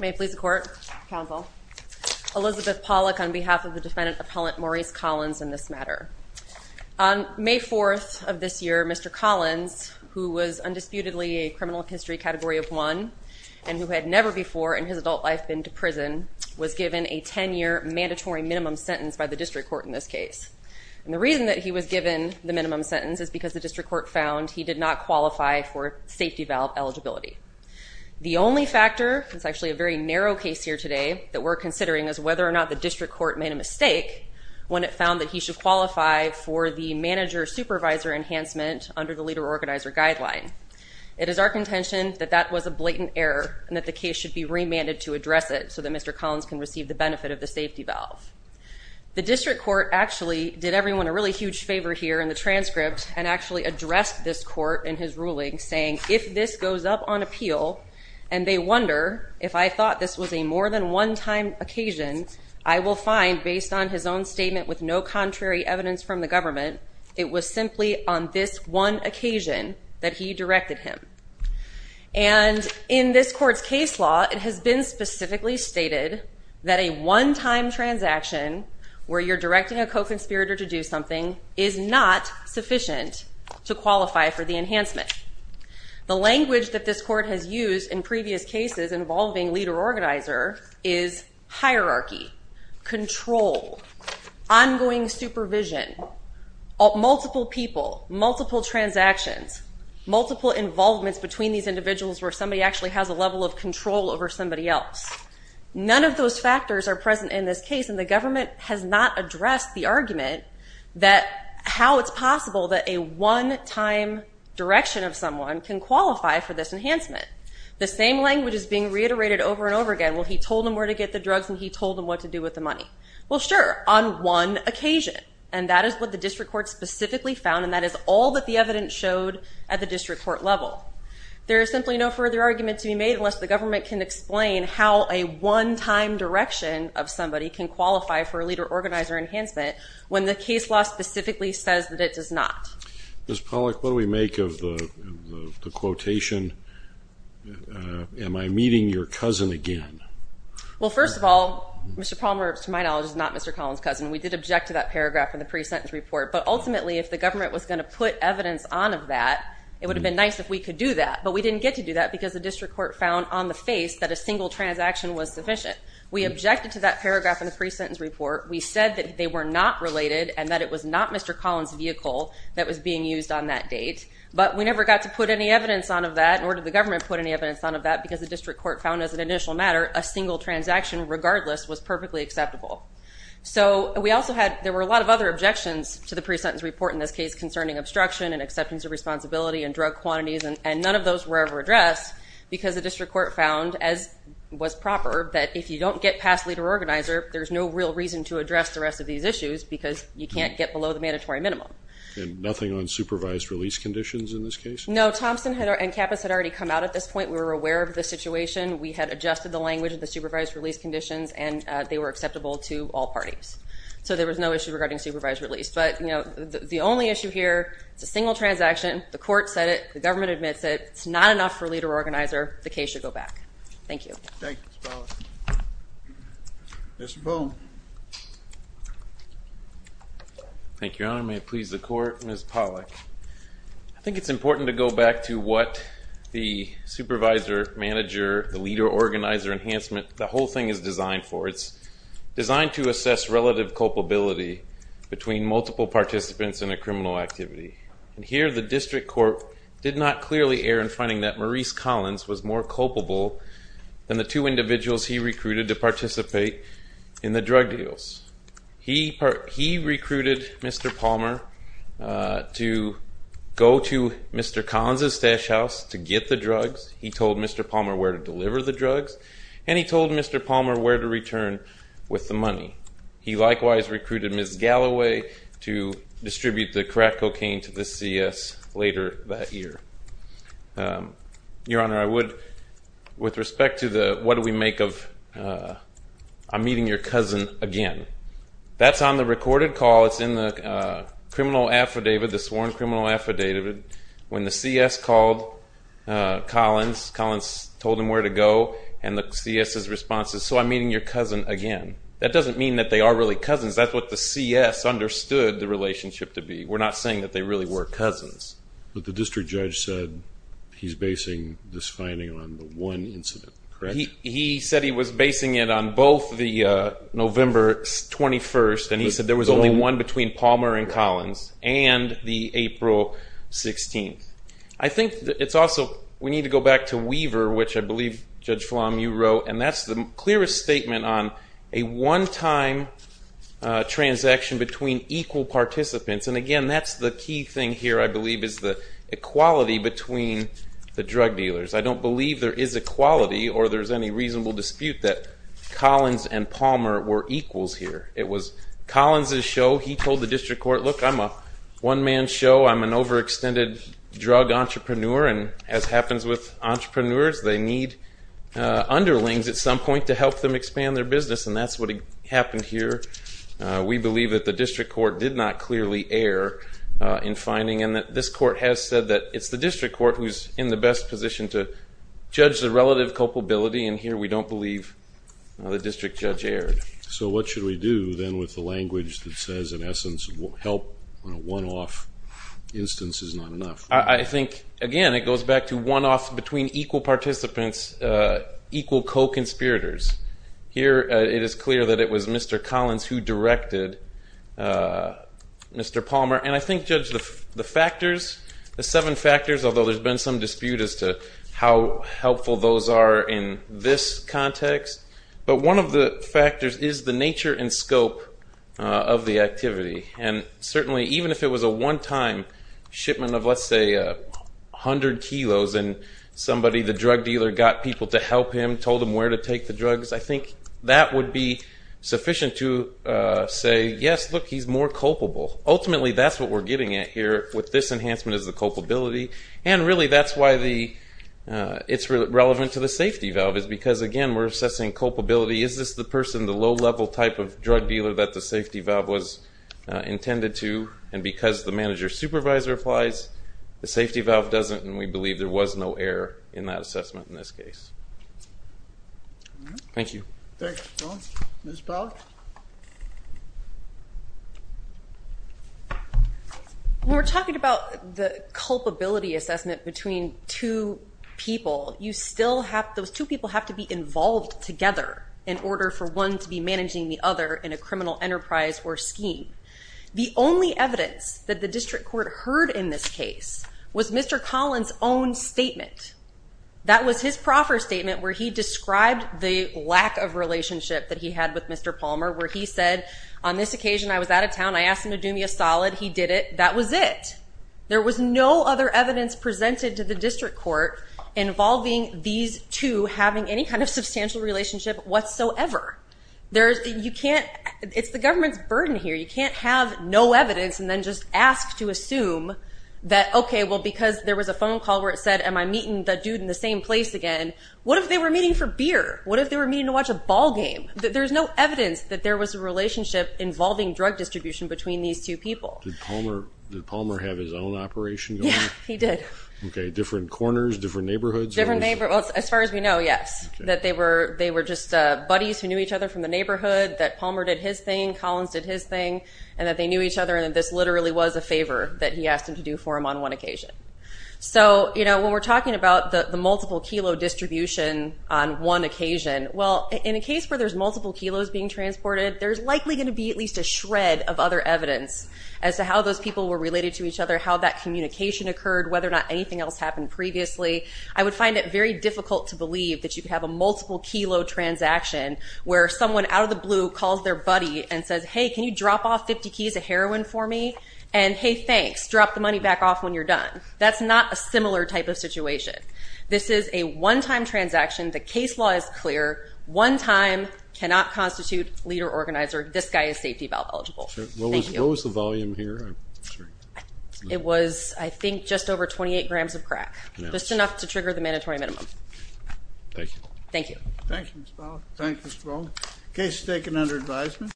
May it please the court, counsel. Elizabeth Pollack on behalf of the defendant appellant Maurice Collins in this matter. On May 4th of this year, Mr. Collins, who was undisputedly a criminal history category of one, and who had never before in his adult life been to prison, was given a 10 year mandatory minimum sentence by the district court in this case. And the reason that he was given the minimum sentence is because the district court found he did not qualify for safety valve eligibility. The only factor, it's actually a very narrow case here today, that we're considering is whether or not the district court made a mistake when it found that he should qualify for the manager supervisor enhancement under the leader organizer guideline. It is our contention that that was a blatant error and that the case should be remanded to address it so that Mr. Collins can receive the benefit of the safety valve. The district court actually did everyone a really huge favor here in the transcript and actually addressed this court in his ruling saying if this goes up on appeal and they wonder if I thought this was a more than one time occasion, I will find based on his own statement with no contrary evidence from the government, it was simply on this one occasion that he directed him. And in this court's case law, it has been specifically stated that a one time transaction where you're directing a co-conspirator to do something is not sufficient to qualify for the enhancement. The language that this court has used in previous cases involving leader organizer is hierarchy, control, ongoing supervision, multiple people, multiple transactions, multiple involvements between these individuals where somebody actually has a level of control over somebody else. None of those factors are present in this case and the government has not addressed the argument that how it's possible that a one time direction of someone can qualify for this enhancement. The same language is being reiterated over and over again. Well, he told him where to get the drugs and he told him what to do with the money. Well, sure, on one occasion and that is what the district court specifically found and that is all that the evidence showed at the district court level. There is simply no further argument to be made unless the government can explain how a one time direction of somebody can qualify for a leader organizer enhancement when the case law specifically says that it does not. Ms. Pollack, what do we make of the quotation, am I meeting your cousin again? Well, first of all, Mr. Palmer, to my knowledge, is not Mr. Collins' cousin. We did object to that paragraph in the pre-sentence report, but ultimately if the government was going to put evidence on of that, it would have been nice if we could do that, but we didn't get to do that because the district court found on the face that a single transaction was sufficient. We objected to that paragraph in the pre-sentence report. We said that they were not related and that it was not Mr. Collins' vehicle that was being used on that date, but we never got to put any evidence on of that nor did the government put any evidence on of that because the district court found as an initial matter a single transaction regardless was perfectly acceptable. So we also had, there were a lot of other objections to the pre-sentence report in this case concerning obstruction and acceptance of responsibility and drug quantities, and none of those were ever addressed because the district court found, as was proper, that if you don't get past leader-organizer, there's no real reason to address the rest of these issues because you can't get below the mandatory minimum. And nothing on supervised release conditions in this case? No, Thompson and Kappas had already come out at this point. We were aware of the situation. We had adjusted the language of the supervised release conditions, and they were acceptable to all parties. So there was no issue regarding supervised release. But, you know, the only issue here is a single transaction. The court said it. The government admits it. It's not enough for leader-organizer. The case should go back. Thank you. Thank you, Ms. Pollack. Mr. Boone. Thank you, Your Honor. May it please the Court. Ms. Pollack. I think it's important to go back to what the supervisor, manager, the leader-organizer enhancement, the whole thing is designed for. It's designed to assess relative culpability between multiple participants in a criminal activity. And here the district court did not clearly err in finding that Maurice Collins was more culpable than the two individuals he recruited to participate in the drug deals. He recruited Mr. Palmer to go to Mr. Collins' stash house to get the drugs. He told Mr. Palmer where to deliver the drugs. And he told Mr. Palmer where to return with the money. He likewise recruited Ms. Galloway to distribute the crack cocaine to the CS later that year. Your Honor, I would, with respect to the what do we make of I'm meeting your cousin again, that's on the recorded call. It's in the criminal affidavit, the sworn criminal affidavit. When the CS called Collins, Collins told him where to go, and the CS' response is, so I'm meeting your cousin again. That doesn't mean that they are really cousins. That's what the CS understood the relationship to be. We're not saying that they really were cousins. But the district judge said he's basing this finding on the one incident, correct? He said he was basing it on both the November 21st, and he said there was only one between Palmer and Collins, and the April 16th. I think it's also, we need to go back to Weaver, which I believe, Judge Flom, you wrote, and that's the clearest statement on a one-time transaction between equal participants. And, again, that's the key thing here, I believe, is the equality between the drug dealers. I don't believe there is equality or there's any reasonable dispute that Collins and Palmer were equals here. It was Collins' show. He told the district court, look, I'm a one-man show. I'm an overextended drug entrepreneur, and as happens with entrepreneurs, they need underlings at some point to help them expand their business, and that's what happened here. We believe that the district court did not clearly err in finding, and that this court has said that it's the district court who's in the best position to judge the relative culpability, and here we don't believe the district judge erred. So what should we do then with the language that says, in essence, help on a one-off instance is not enough? I think, again, it goes back to one-off between equal participants, equal co-conspirators. Here it is clear that it was Mr. Collins who directed Mr. Palmer, and I think, Judge, the factors, the seven factors, although there's been some dispute as to how helpful those are in this context, but one of the factors is the nature and scope of the activity, and certainly even if it was a one-time shipment of, let's say, 100 kilos, and somebody, the drug dealer, got people to help him, told him where to take the drugs, I think that would be sufficient to say, yes, look, he's more culpable. Ultimately, that's what we're getting at here with this enhancement is the culpability, and really that's why it's relevant to the safety valve is because, again, we're assessing culpability. Is this the person, the low-level type of drug dealer that the safety valve was intended to? And because the manager-supervisor applies, the safety valve doesn't, and we believe there was no error in that assessment in this case. Thank you. Thank you. Ms. Pollack? When we're talking about the culpability assessment between two people, you still have those two people have to be involved together in order for one to be managing the other in a criminal enterprise or scheme. The only evidence that the district court heard in this case was Mr. Collins' own statement. That was his proffer statement where he described the lack of relationship that he had with Mr. Palmer, where he said, on this occasion, I was out of town. I asked him to do me a solid. He did it. That was it. There was no other evidence presented to the district court involving these two having any kind of substantial relationship whatsoever. You can't – it's the government's burden here. You can't have no evidence and then just ask to assume that, okay, well, because there was a phone call where it said, am I meeting that dude in the same place again? What if they were meeting for beer? What if they were meeting to watch a ball game? There's no evidence that there was a relationship involving drug distribution between these two people. Did Palmer have his own operation going? Yeah, he did. Okay, different corners, different neighborhoods? Different neighborhoods. As far as we know, yes, that they were just buddies who knew each other from the neighborhood, that Palmer did his thing, Collins did his thing, and that they knew each other, and this literally was a favor that he asked him to do for him on one occasion. So, you know, when we're talking about the multiple kilo distribution on one occasion, well, in a case where there's multiple kilos being transported, there's likely going to be at least a shred of other evidence as to how those people were related to each other, how that communication occurred, whether or not anything else happened previously. I would find it very difficult to believe that you could have a multiple kilo transaction where someone out of the blue calls their buddy and says, hey, can you drop off 50 keys of heroin for me? And, hey, thanks, drop the money back off when you're done. That's not a similar type of situation. This is a one-time transaction. The case law is clear. One time cannot constitute leader-organizer. This guy is safety valve eligible. What was the volume here? It was, I think, just over 28 grams of crack, just enough to trigger the mandatory minimum. Thank you. Thank you. Thank you, Mr. Powell. Thank you, Mr. Bowles. Case is taken under advisement.